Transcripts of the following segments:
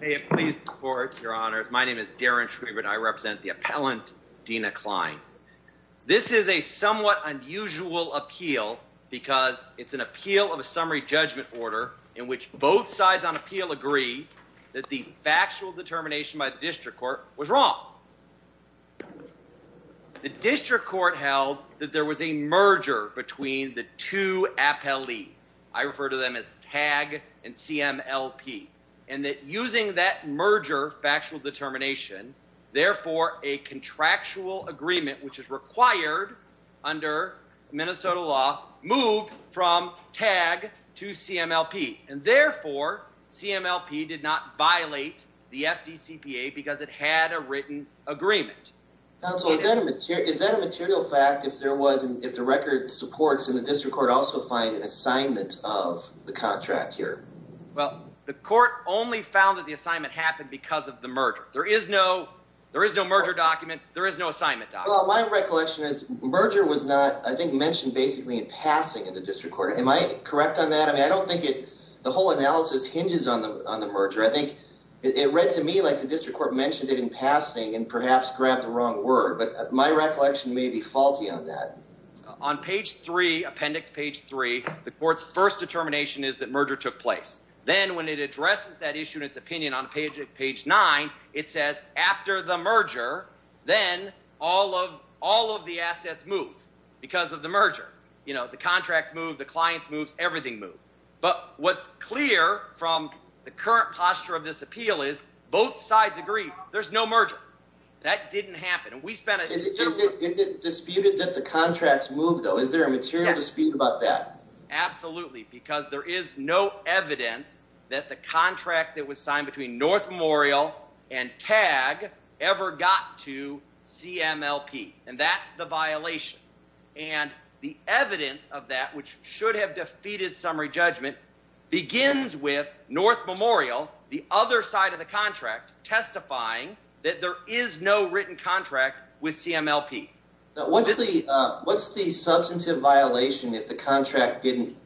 May it please the Court, Your Honors. My name is Darren Schwiebert. I represent the appellant, Dina Klein. This is a somewhat unusual appeal because it's an appeal of a summary judgment order in which both sides on appeal agree that the factual determination by the district court was wrong. The district court held that there was a merger between the two appellees. I refer to them as TAG and CMLP and that using that merger factual determination therefore a contractual agreement which is required under Minnesota law moved from TAG to CMLP and therefore CMLP did not violate the FDCPA because it had a written agreement. Counsel, is that a material fact if there was, if the record supports and the district court also find an assignment of the contract here? Well, the court only found that the assignment happened because of the merger. There is no, there is no merger document, there is no assignment document. Well, my recollection is merger was not, I think, mentioned basically in passing in the district court. Am I correct on that? I mean, I don't think it, the whole analysis hinges on the merger. I think it read to me like the district court mentioned it in passing and perhaps grabbed the wrong word, but my recollection may be faulty on that. On page 3, appendix page 3, the court's first determination is that merger took place. Then when it addresses that issue in its opinion on page 9, it says after the merger then all of, all of the assets move because of the merger. You know, the contracts move, the clients moves, everything moves. But what's clear from the current posture of this appeal is both sides agree there's no merger. That didn't happen. Is it disputed that the contracts move though? Is there a material dispute about that? Absolutely, because there is no evidence that the contract that was signed between North Memorial and TAG ever got to CMLP and that's the violation. And the evidence of that, which should have defeated summary judgment, begins with North Memorial, the other side of the contract, testifying that there is no written contract with CMLP. What's the, what's the substantive violation if the contract didn't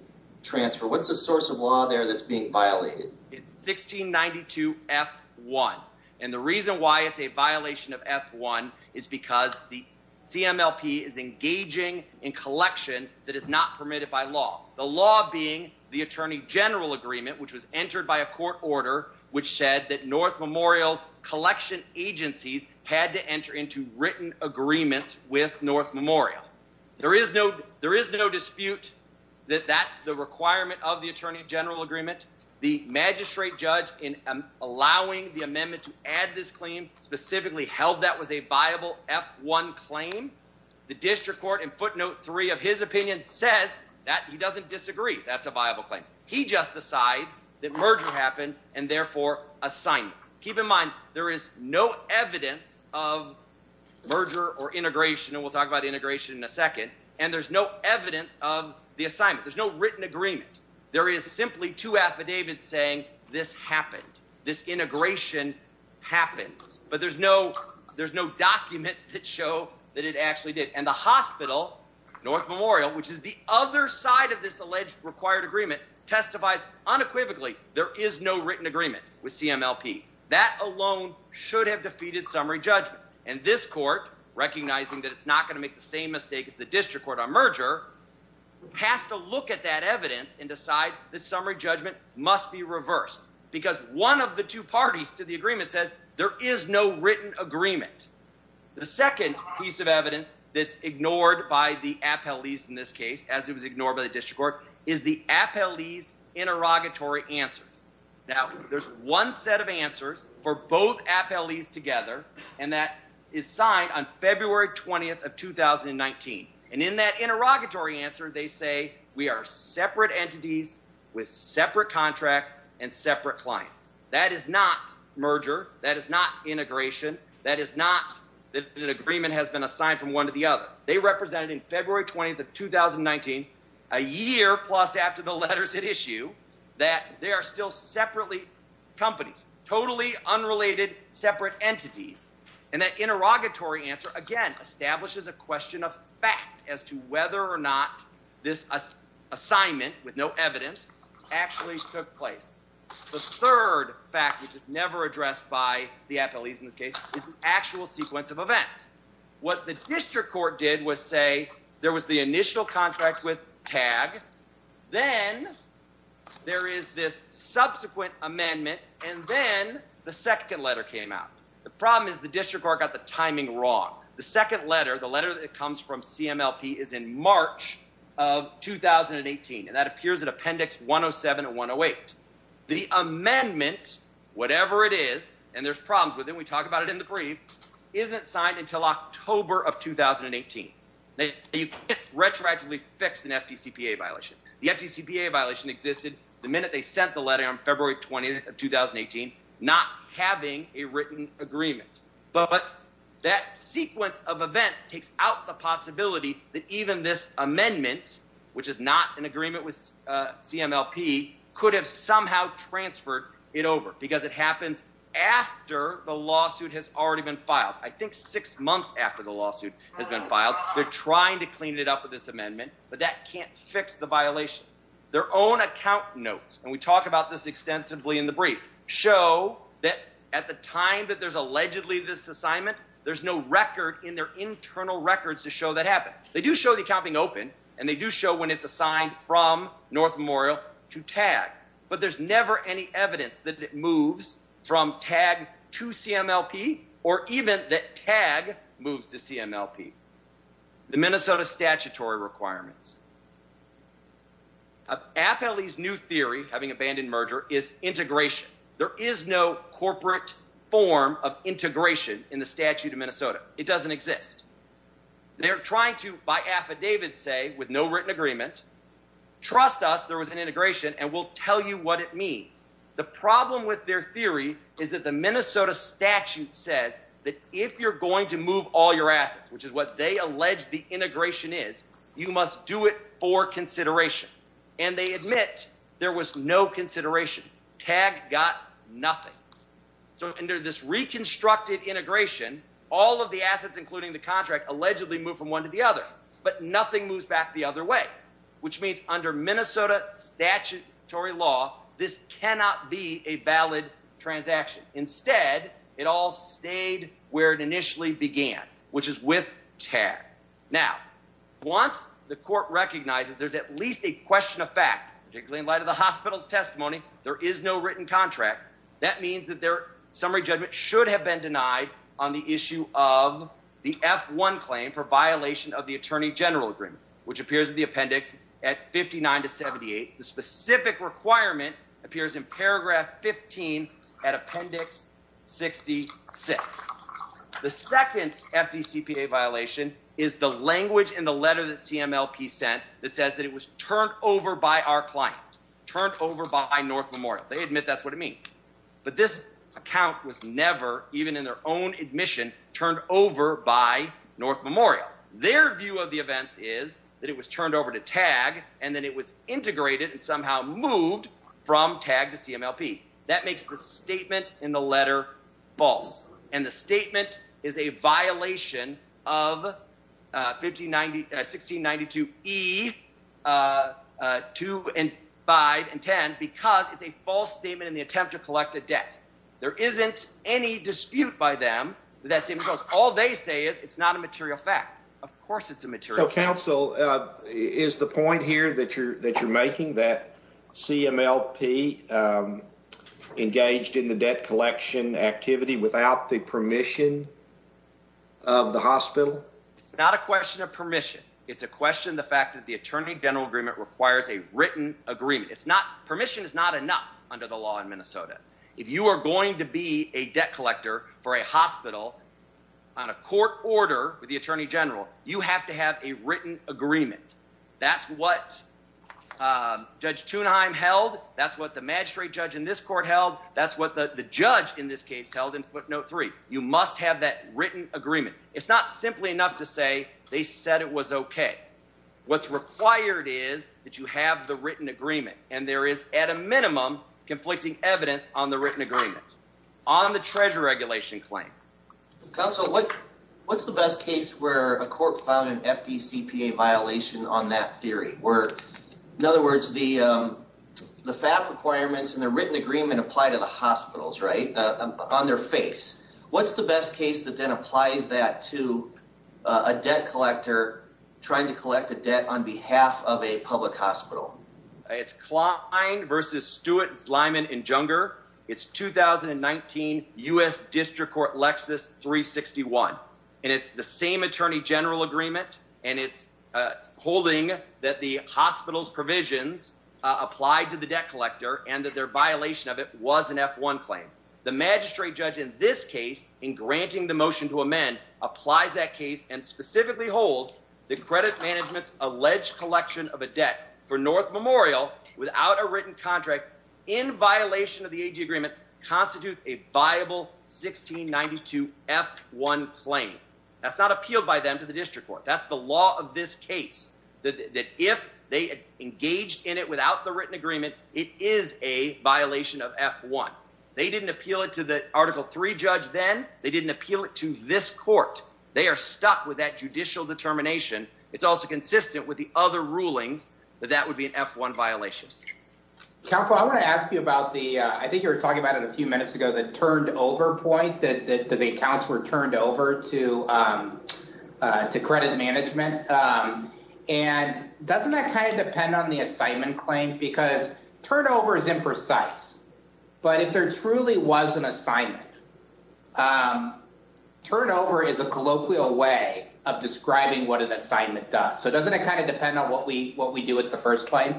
transfer? What's the source of law there that's being violated? It's 1692 F1 and the reason why it's a violation of F1 is because the CMLP is engaging in collection that is not permitted by law. The law being the Attorney General Agreement, which was entered by a court order which said that North Memorial's collection agencies had to enter into written agreements with North Memorial. There is no, there is no dispute that that's the requirement of the Attorney General Agreement. The magistrate judge in allowing the amendment to add this claim specifically held that was a viable F1 claim. The district court in footnote 3 of his opinion says that he just decides that merger happened and therefore assignment. Keep in mind there is no evidence of merger or integration, and we'll talk about integration in a second, and there's no evidence of the assignment. There's no written agreement. There is simply two affidavits saying this happened, this integration happened. But there's no, there's no document that show that it actually did. And the hospital, North Memorial, which is the other side of this alleged required agreement, testifies unequivocally there is no written agreement with CMLP. That alone should have defeated summary judgment. And this court, recognizing that it's not going to make the same mistake as the district court on merger, has to look at that evidence and decide the summary judgment must be reversed. Because one of the two parties to the agreement says there is no written agreement. The second piece of evidence that's ignored by the appellees in this case, as it was ignored by the district court, is the appellee's interrogatory answers. Now there's one set of answers for both appellees together, and that is signed on February 20th of 2019. And in that interrogatory answer they say we are separate entities with separate contracts and separate clients. That is not merger. That is not integration. That is not that an agreement has been assigned from one to the other. They represented in February 20th of 2019, a year plus after the letters had issued, that they are still separately companies. Totally unrelated, separate entities. And that interrogatory answer, again, establishes a question of fact as to whether or not this assignment, with no evidence, actually took place. The third fact, which is never addressed by the district court, was say there was the initial contract with TAG, then there is this subsequent amendment, and then the second letter came out. The problem is the district court got the timing wrong. The second letter, the letter that comes from CMLP, is in March of 2018. And that appears in appendix 107 and 108. The amendment, whatever it is, and there's problems with it, we talk about it in the of 2018. Now you can't retroactively fix an FDCPA violation. The FDCPA violation existed the minute they sent the letter on February 20th of 2018, not having a written agreement. But that sequence of events takes out the possibility that even this amendment, which is not an agreement with CMLP, could have somehow transferred it over. Because it happens after the lawsuit has already been filed. They're trying to clean it up with this amendment, but that can't fix the violation. Their own account notes, and we talk about this extensively in the brief, show that at the time that there's allegedly this assignment, there's no record in their internal records to show that happened. They do show the accounting open, and they do show when it's assigned from North Memorial to TAG, but there's never any evidence that it moves from TAG to CMLP, or even that TAG moves to CMLP. The Minnesota statutory requirements. Appelle's new theory, having abandoned merger, is integration. There is no corporate form of integration in the statute of Minnesota. It doesn't exist. They're trying to, by affidavit say, with no written agreement, trust us there was an integration and we'll tell you what it means. The problem with their theory is that the Minnesota statute says that if you're going to move all your assets, which is what they allege the integration is, you must do it for consideration. And they admit there was no consideration. TAG got nothing. So under this reconstructed integration, all of the assets, including the contract, allegedly moved from one to the other, but nothing moves back the other way. Which means under Minnesota statutory law, this is where it initially began, which is with TAG. Now, once the court recognizes there's at least a question of fact, particularly in light of the hospital's testimony, there is no written contract. That means that their summary judgment should have been denied on the issue of the F-1 claim for violation of the attorney general agreement, which appears in the appendix at 59 to 78. The specific requirement appears in paragraph 15 at appendix 66. The second FDCPA violation is the language in the letter that CMLP sent that says that it was turned over by our client, turned over by North Memorial. They admit that's what it means. But this account was never, even in their own admission, turned over by North Memorial. Their view of the events is that it was turned over to TAG and that it was integrated and somehow moved from TAG to CMLP. That makes the statement in the letter false. And the statement is a violation of 1692E, 2 and 5 and 10, because it's a false statement in the attempt to collect a debt. There isn't any dispute by them that that statement is false. All they say is it's not a material fact. Of course it's a material fact. Counsel, is the point here that you're making that CMLP engaged in the debt collection activity without the permission of the hospital? It's not a question of permission. It's a question of the fact that the attorney general agreement requires a written agreement. Permission is not enough under the law in Minnesota. If you are going to be a debt collector for a hospital on a written agreement, that's what Judge Tuneheim held. That's what the magistrate judge in this court held. That's what the judge in this case held in footnote three. You must have that written agreement. It's not simply enough to say they said it was okay. What's required is that you have the written agreement. And there is, at a minimum, conflicting evidence on the written agreement, on the treasure regulation claim. Counsel, what's the best case where a court found an FDCPA violation on that theory? Where, in other words, the FAP requirements and the written agreement apply to the hospitals, right, on their face. What's the best case that then applies that to a debt collector trying to collect a debt on behalf of a public hospital? It's Klein v. Stewart, Zleiman & Junger. It's 2019 U.S. District Court Lexis 361. And it's the same attorney general agreement. And it's holding that the hospital's provisions applied to the debt collector and that their violation of it was an F1 claim. The magistrate judge in this case, in granting the motion to amend, applies that case and specifically holds the credit management's alleged collection of a debt for North Memorial without a written contract in violation of the AG agreement constitutes a viable 1692 F1 claim. That's not appealed by them to the district court. That's the law of this case, that if they engaged in it without the written agreement, it is a violation of F1. They didn't appeal it to the Article III judge then. They didn't appeal it to this court. They are stuck with that judicial determination. It's also consistent with the other rulings that that would be an F1 violation. Counsel, I want to ask you about the, I think you were talking about it a few minutes ago, the turned over point that the accounts were turned over to credit management. And doesn't that kind of depend on the assignment claim? Because turnover is imprecise. But if there truly was an assignment, turnover is a So doesn't it kind of depend on what we, what we do with the first claim?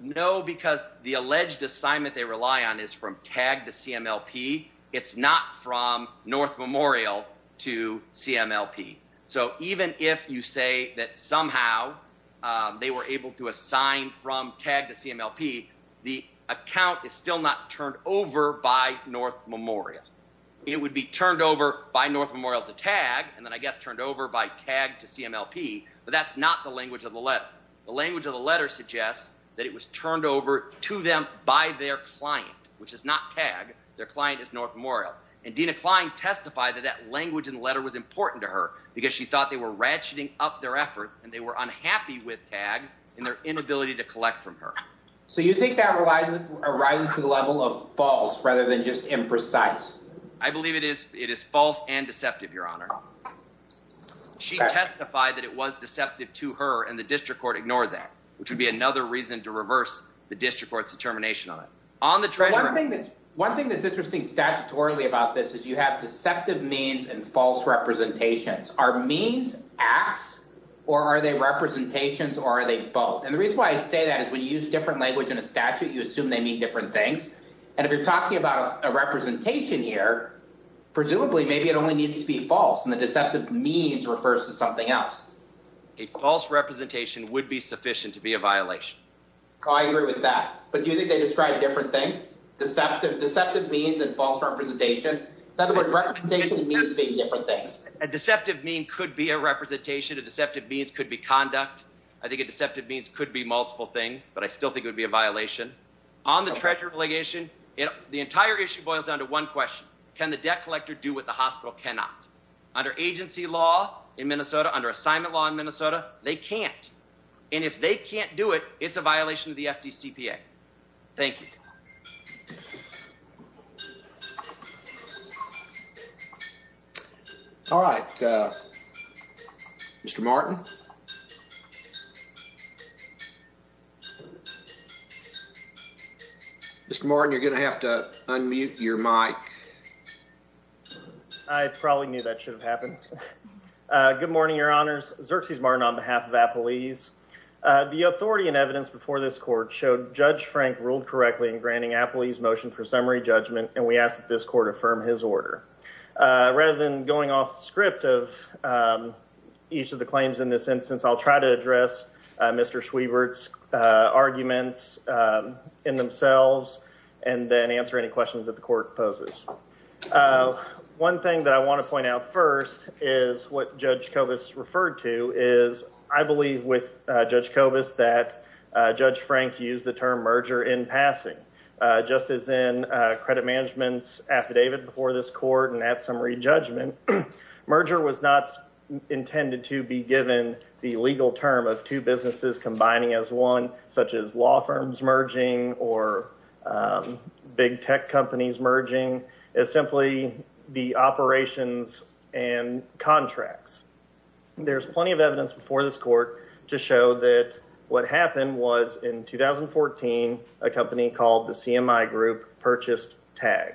No, because the alleged assignment they rely on is from TAG to CMLP. It's not from North Memorial to CMLP. So even if you say that somehow they were able to assign from TAG to CMLP, the account is still not turned over by North Memorial. It would be turned over by North Memorial to TAG. And then I guess turned over by TAG to CMLP, but that's not the language of the letter. The language of the letter suggests that it was turned over to them by their client, which is not TAG. Their client is North Memorial. And Dina Klein testified that that language in the letter was important to her because she thought they were ratcheting up their effort and they were unhappy with TAG and their inability to collect from her. So you think that arises to the level of false rather than just imprecise? I believe it is. It is false and deceptive, Your Honor. She testified that it was deceptive to her and the district court ignored that, which would be another reason to reverse the district court's determination on it. One thing that's interesting statutorily about this is you have deceptive means and false representations. Are means acts or are they representations or are they both? And the reason why I say that is when you use different language in a statute, you assume they mean different things. And if you're talking about a representation here, presumably maybe it only needs to be false. And the means refers to something else. A false representation would be sufficient to be a violation. I agree with that. But do you think they describe different things? Deceptive means and false representation? In other words, representation means being different things. A deceptive mean could be a representation. A deceptive means could be conduct. I think a deceptive means could be multiple things, but I still think it would be a violation. On the treasure obligation, the entire issue boils down to one question. Can the debt collector do what the hospital cannot? Under agency law in Minnesota, under assignment law in Minnesota, they can't. And if they can't do it, it's a violation of the FDCPA. Thank you. All right. Mr. Martin. Mr. Martin, you're going to have to unmute your mic. I probably knew that should have happened. Good morning, Your Honors. Xerxes Martin on behalf of Appalese. The authority and evidence before this court showed Judge Frank ruled correctly in granting Appalese motion for summary judgment, and we ask that this court affirm his order. Rather than going off script of each of the claims in this instance, I'll try to address Mr. Schwiebert's arguments in this instance. One thing that I want to point out first is what Judge Kovas referred to is I believe with Judge Kovas that Judge Frank used the term merger in passing. Just as in credit management's affidavit before this court and at summary judgment, merger was not intended to be given the legal term of two businesses combining as one, such as law firms merging or big tech companies merging, as simply the operations and contracts. There's plenty of evidence before this court to show that what happened was in 2014, a company called the CMI Group purchased TAG.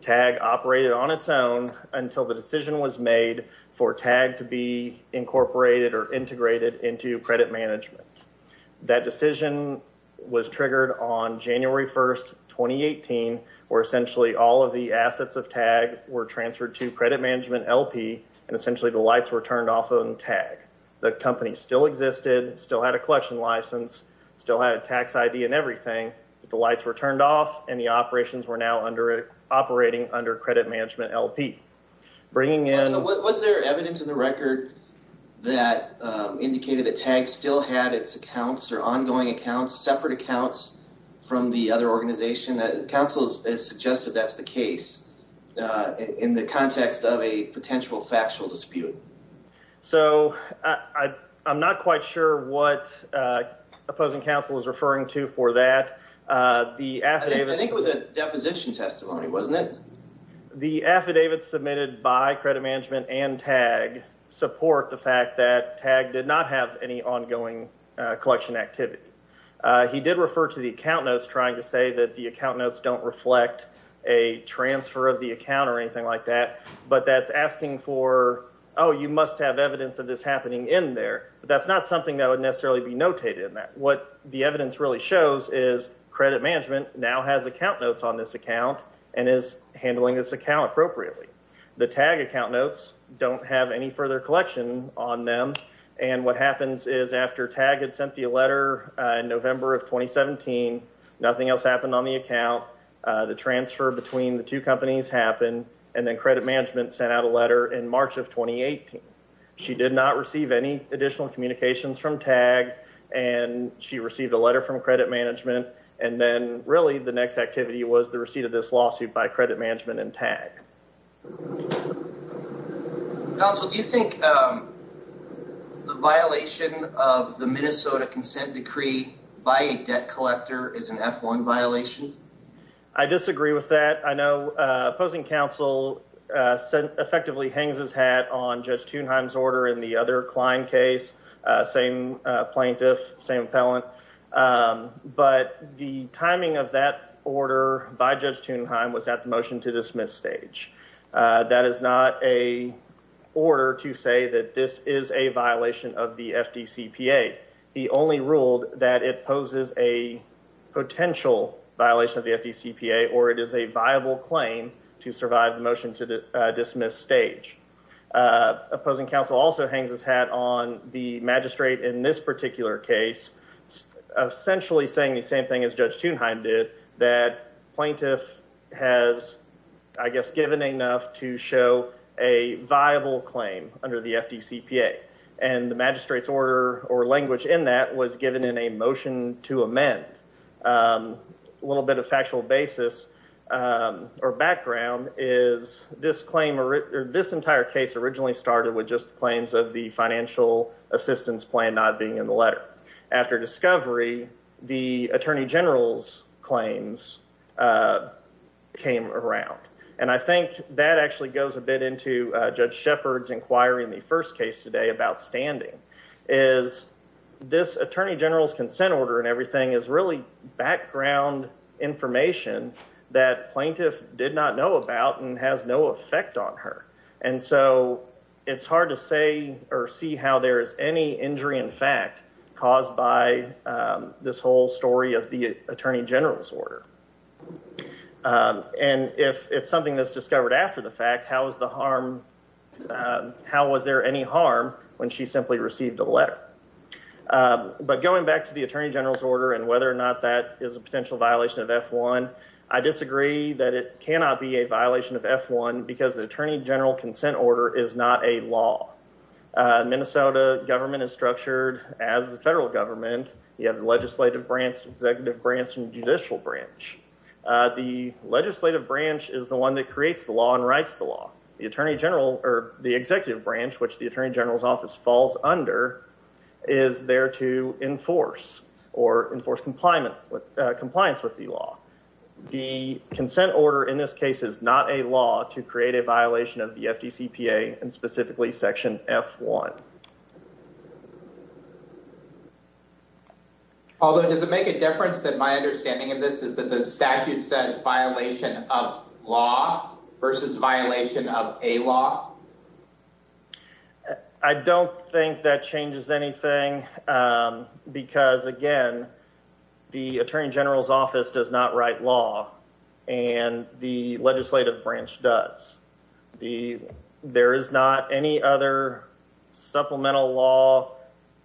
TAG operated on its own until the decision was made for TAG to be incorporated or integrated into credit management. That decision was triggered on January 1st, 2018, where essentially all of the assets of TAG were transferred to credit management LP, and essentially the lights were turned off on TAG. The company still existed, still had a collection license, still had a tax ID and everything, but the lights were turned off and the operations were now operating under credit management LP. So was there evidence in the record that indicated that TAG still had its ongoing accounts, separate accounts from the other organization? The counsel has suggested that's the case in the context of a potential factual dispute. So I'm not quite sure what opposing counsel is referring to for that. I think it was a deposition testimony, wasn't it? The affidavit submitted by credit management and TAG support the fact that collection activity. He did refer to the account notes trying to say that the account notes don't reflect a transfer of the account or anything like that, but that's asking for, oh, you must have evidence of this happening in there, but that's not something that would necessarily be notated in that. What the evidence really shows is credit management now has account notes on this account and is handling this account appropriately. The TAG account notes don't have any further collection on them, and what happens is after TAG had sent the letter in November of 2017, nothing else happened on the account. The transfer between the two companies happened, and then credit management sent out a letter in March of 2018. She did not receive any additional communications from TAG, and she received a letter from credit management, and then really the next activity was the receipt of this lawsuit by credit management and TAG. Council, do you think the violation of the Minnesota consent decree by a debt collector is an F1 violation? I disagree with that. I know opposing counsel effectively hangs his hat on Judge Thunheim's order in the other Klein case, same plaintiff, same appellant, but the timing of that order by Judge Thunheim was at the motion to dismiss stage. That is not an order to say that this is a violation of the FDCPA. He only ruled that it poses a potential violation of the FDCPA, or it is a viable claim to survive the motion to dismiss stage. Opposing counsel also hangs his hat on the magistrate in this particular case, essentially saying the same thing as Judge Thunheim did, that plaintiff has, I think, to show a viable claim under the FDCPA, and the magistrate's order or language in that was given in a motion to amend. A little bit of factual basis or background is this entire case originally started with just the claims of the financial assistance plan not being in the letter. After discovery, the attorney general's claims came around, and I think that actually goes a bit into Judge Shepard's inquiry in the first case today about standing, is this attorney general's consent order and everything is really background information that plaintiff did not know about and has no effect on her, and so it's hard to say or see how there is any injury in fact caused by this whole story of the attorney general's order. And if it's something that's discovered after the fact, how was there any harm when she simply received a letter? But going back to the attorney general's order and whether or not that is a potential violation of F-1, I disagree that it cannot be a violation of F-1 because the attorney general's consent order is not a law. Minnesota government is structured as a federal government. You have legislative branch, executive branch, and judicial branch. The legislative branch is the one that creates the law and writes the law. The attorney general or the executive branch, which the attorney general's office falls under, is there to enforce or enforce compliance with the law. The consent order in this case is not a law to create a violation of the FDCPA and specifically section F-1. Although, does it make a difference that my understanding of this is that the statute says violation of law versus violation of a law? I don't think that changes anything because, again, the attorney general's office does not write law and the legislative branch does. The, there is not any other supplemental law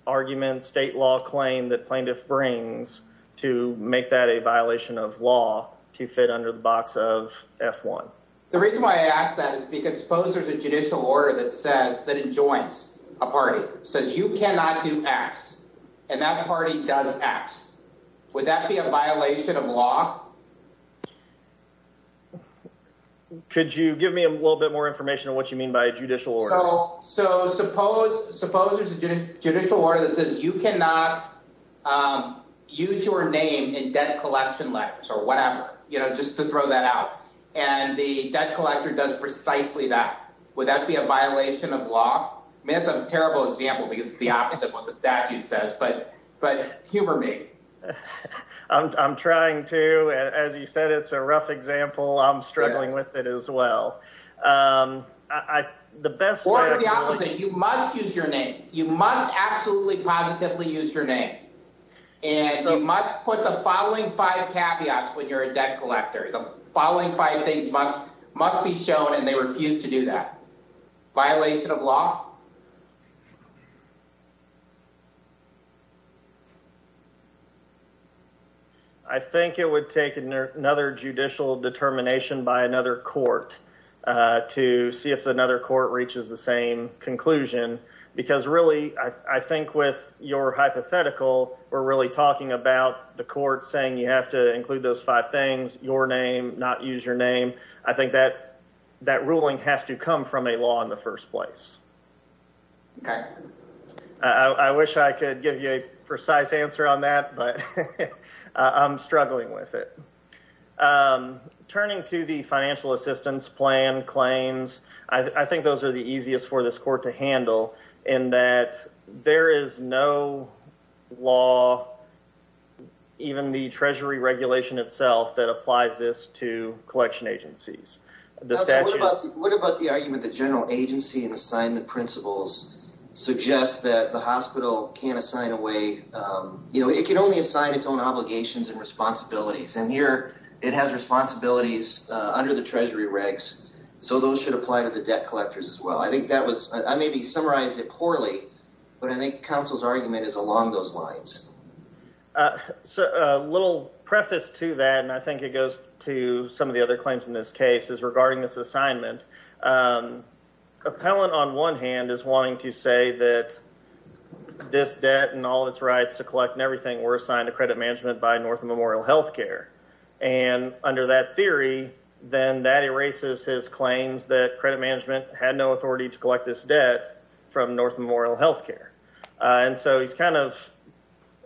argument, state law claim that plaintiff brings to make that a violation of law to fit under the box of F-1. The reason why I ask that is because suppose there's a judicial order that says that it joins a party, says you cannot do X and that party does X. Would that be a violation of law? Could you give me a little bit more information on what you mean by judicial order? So, suppose there's a judicial order that says you cannot use your name in debt collection letters or whatever, you know, just to throw that out. And the debt collector does precisely that. Would that be a violation of law? I mean, that's a terrible example because it's the opposite of what the statute says, but humor me. I'm trying to, as you said, it's a rough example. I'm struggling with it as well. The best. Or the opposite. You must use your name. You must absolutely positively use your name. And you must put the following five caveats when you're a debt collector. The following five things must be shown and they refuse to do that. Violation of law. I think it would take another judicial determination by another court to see if another court reaches the same conclusion. Because really, I think with your hypothetical, we're really talking about the court saying you have to include those five things, your name, not use your name. I think that ruling has to come from a law in the first place. I wish I could give you a precise answer on that, but I'm struggling with it. Turning to the financial assistance plan claims, I think those are the easiest for this court to handle in that there is no law, even the treasury regulation itself, that applies this to collection agencies. What about the argument that general agency and assignment principles suggest that the hospital can't assign away, you know, it can only assign its own obligations and responsibilities. And here it has responsibilities under the treasury regs, so those should apply to the debt collectors as well. I think that was, I maybe summarized it poorly, but I think counsel's argument is along those lines. So, a little preface to that, and I think it goes to some of the other claims in this case, is regarding this assignment. Appellant on one hand is wanting to say that this debt and all of its rights to collect and everything were assigned to credit management by North Memorial Health Care. And under that theory, then that erases his claims that credit management had no authority to collect this debt from North Memorial Health Care. And so he's kind of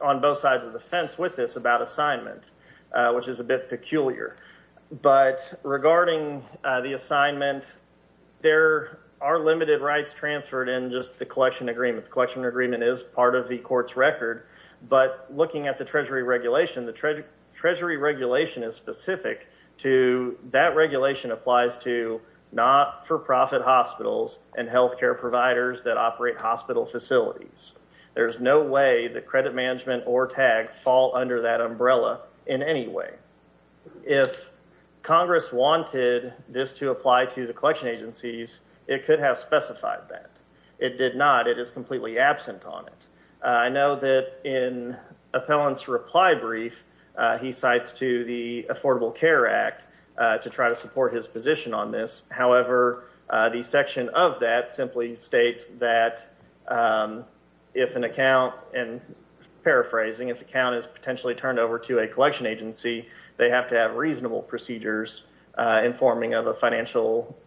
on both sides of the fence with this about assignment, which is a bit peculiar. But regarding the assignment, there are limited rights transferred in just the collection agreement. The collection agreement is part of the court's record, but looking at the treasury regulation, the treasury regulation is specific to that regulation applies to not-for-profit hospitals and health care providers that operate hospital facilities. There's no way that credit management or TAG fall under that umbrella in any way. If Congress wanted this to apply to the collection agencies, it could have specified that. It did not. It is completely absent on it. I know that in Appellant's reply brief, he cites to the Affordable Care Act to try to support his position on this. However, the section of that simply states that if an account, and paraphrasing, if an account is potentially turned over to a collection agency, they have to have reasonable procedures informing of a financial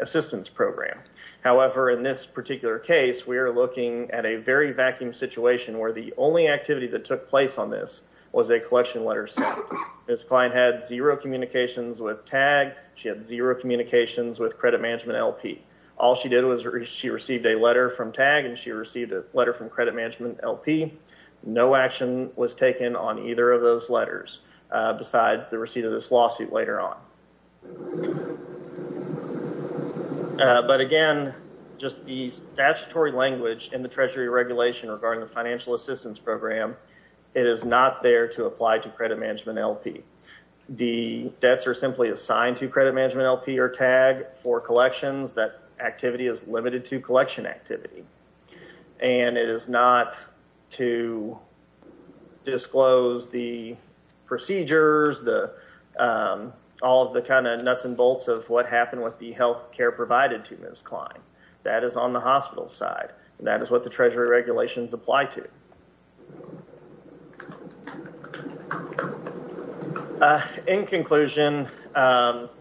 assistance program. However, in this particular case, we are looking at a very vacuum situation where the only activity that took place on this was a collection letter sent. This client had zero communications with TAG. She had zero communications with credit management LP. All she did was she received a letter from TAG and she received a letter from credit management LP. No action was taken on either of those letters besides the receipt of this lawsuit later on. But again, just the statutory language in the treasury regulation regarding the management LP. The debts are simply assigned to credit management LP or TAG for collections. That activity is limited to collection activity. And it is not to disclose the procedures, all of the kind of nuts and bolts of what happened with the health care provided to Ms. Klein. That is on the hospital side. That is what the treasury regulations apply to. In conclusion,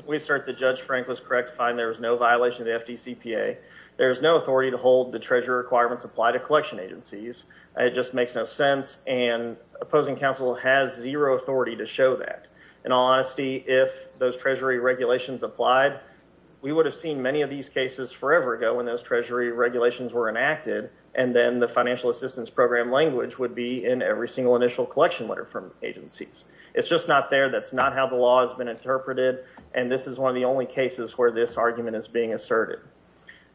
we assert that Judge Frank was correct to find there was no violation of the FDCPA. There is no authority to hold the treasury requirements apply to collection agencies. It just makes no sense and opposing counsel has zero authority to show that. In all honesty, if those treasury regulations applied, we would have seen many of these cases forever ago when those treasury regulations were enacted and then the financial assistance program language would be in every initial collection letter from agencies. It is just not there. That is not how the law has been interpreted. And this is one of the only cases where this argument is being asserted.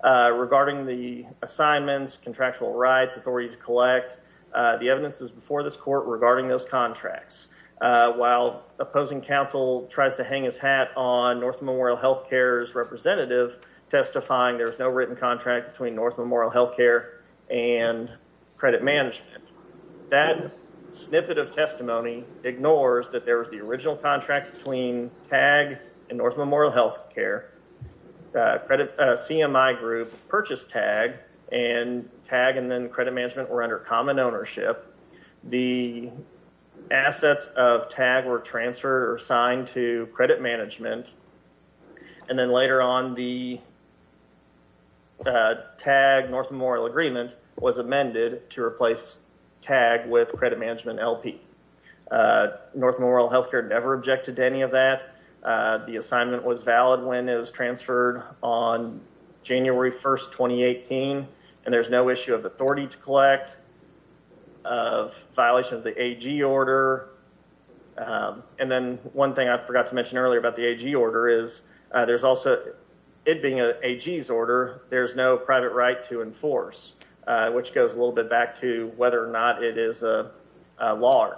Regarding the assignments, contractual rights, authority to collect, the evidence is before this court regarding those contracts. While opposing counsel tries to hang his hat on North Memorial Health Care's representative testifying there is no written contract between North Memorial Health Care and credit management. That snippet of testimony ignores that there was the original contract between TAG and North Memorial Health Care. CMI group purchased TAG and TAG and then credit management were under common ownership. The assets of TAG were transferred or signed to credit management and then TAG with credit management LP. North Memorial Health Care never objected to any of that. The assignment was valid when it was transferred on January 1, 2018. And there is no issue of authority to collect, of violation of the AG order. And then one thing I forgot to mention earlier about the AG order is there is also it being an AG's order, there is no private right to enforce, which goes a lot, it is a law.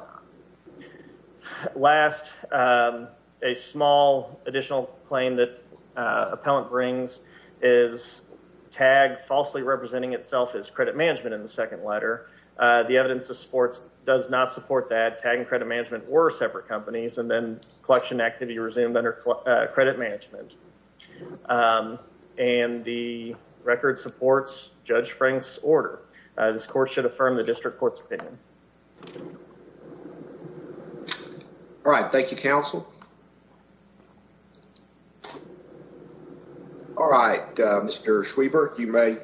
Last, a small additional claim that appellant brings is TAG falsely representing itself as credit management in the second letter. The evidence of supports does not support that. TAG and credit management were separate companies and then collection activity resumed under credit management. And the record supports Judge Frank's order. This court should affirm the district court's opinion. All right. Thank you, counsel. All right. Mr. Schwieber, you may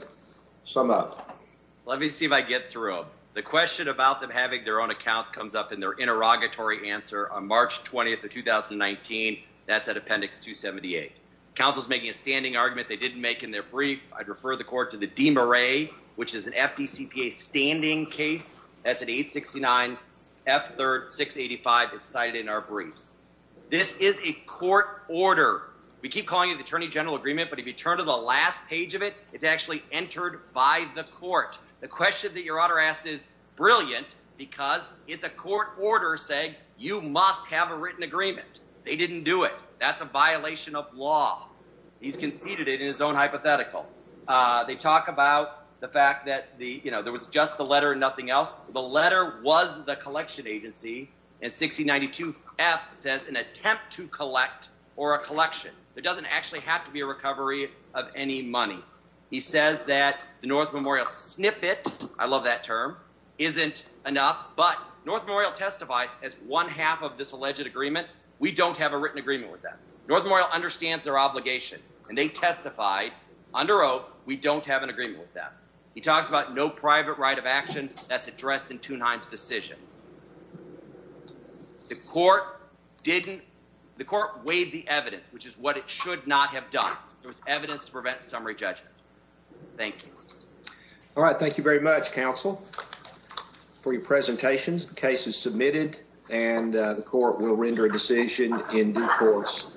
sum up. Let me see if I get through. The question about them having their own account comes up in their interrogatory answer on March 20th of 2019. That's at appendix 278. Counsel's making a standing argument they didn't make in their brief. I'd refer the court to the DMRA, which is an FDCPA standing case. That's an 869 F3 685 that's cited in our briefs. This is a court order. We keep calling it the attorney general agreement, but if you turn to the last page of it, it's actually entered by the court. The question that your honor asked is brilliant because it's a court order saying you must have a written agreement. They didn't do it. That's a violation of law. He's conceded it in his own hypothetical. They talk about the fact that there was just the letter and nothing else. The letter was the collection agency, and 6092 F says an attempt to collect or a collection. There doesn't actually have to be a recovery of any money. He says that the North Memorial snippet, I love that term, isn't enough, but North Memorial testifies as one half of this alleged agreement. We don't have a written agreement with them. North Memorial understands their obligation, and they testified under oath we don't have an agreement with them. He talks about no private right of action that's addressed in Tuneheim's decision. The court weighed the evidence, which is what it should not have done. There was evidence to prevent summary judgment. Thank you. All right. Thank you very much, counsel, for your presentations. The case is submitted, and the court will render a decision in due course.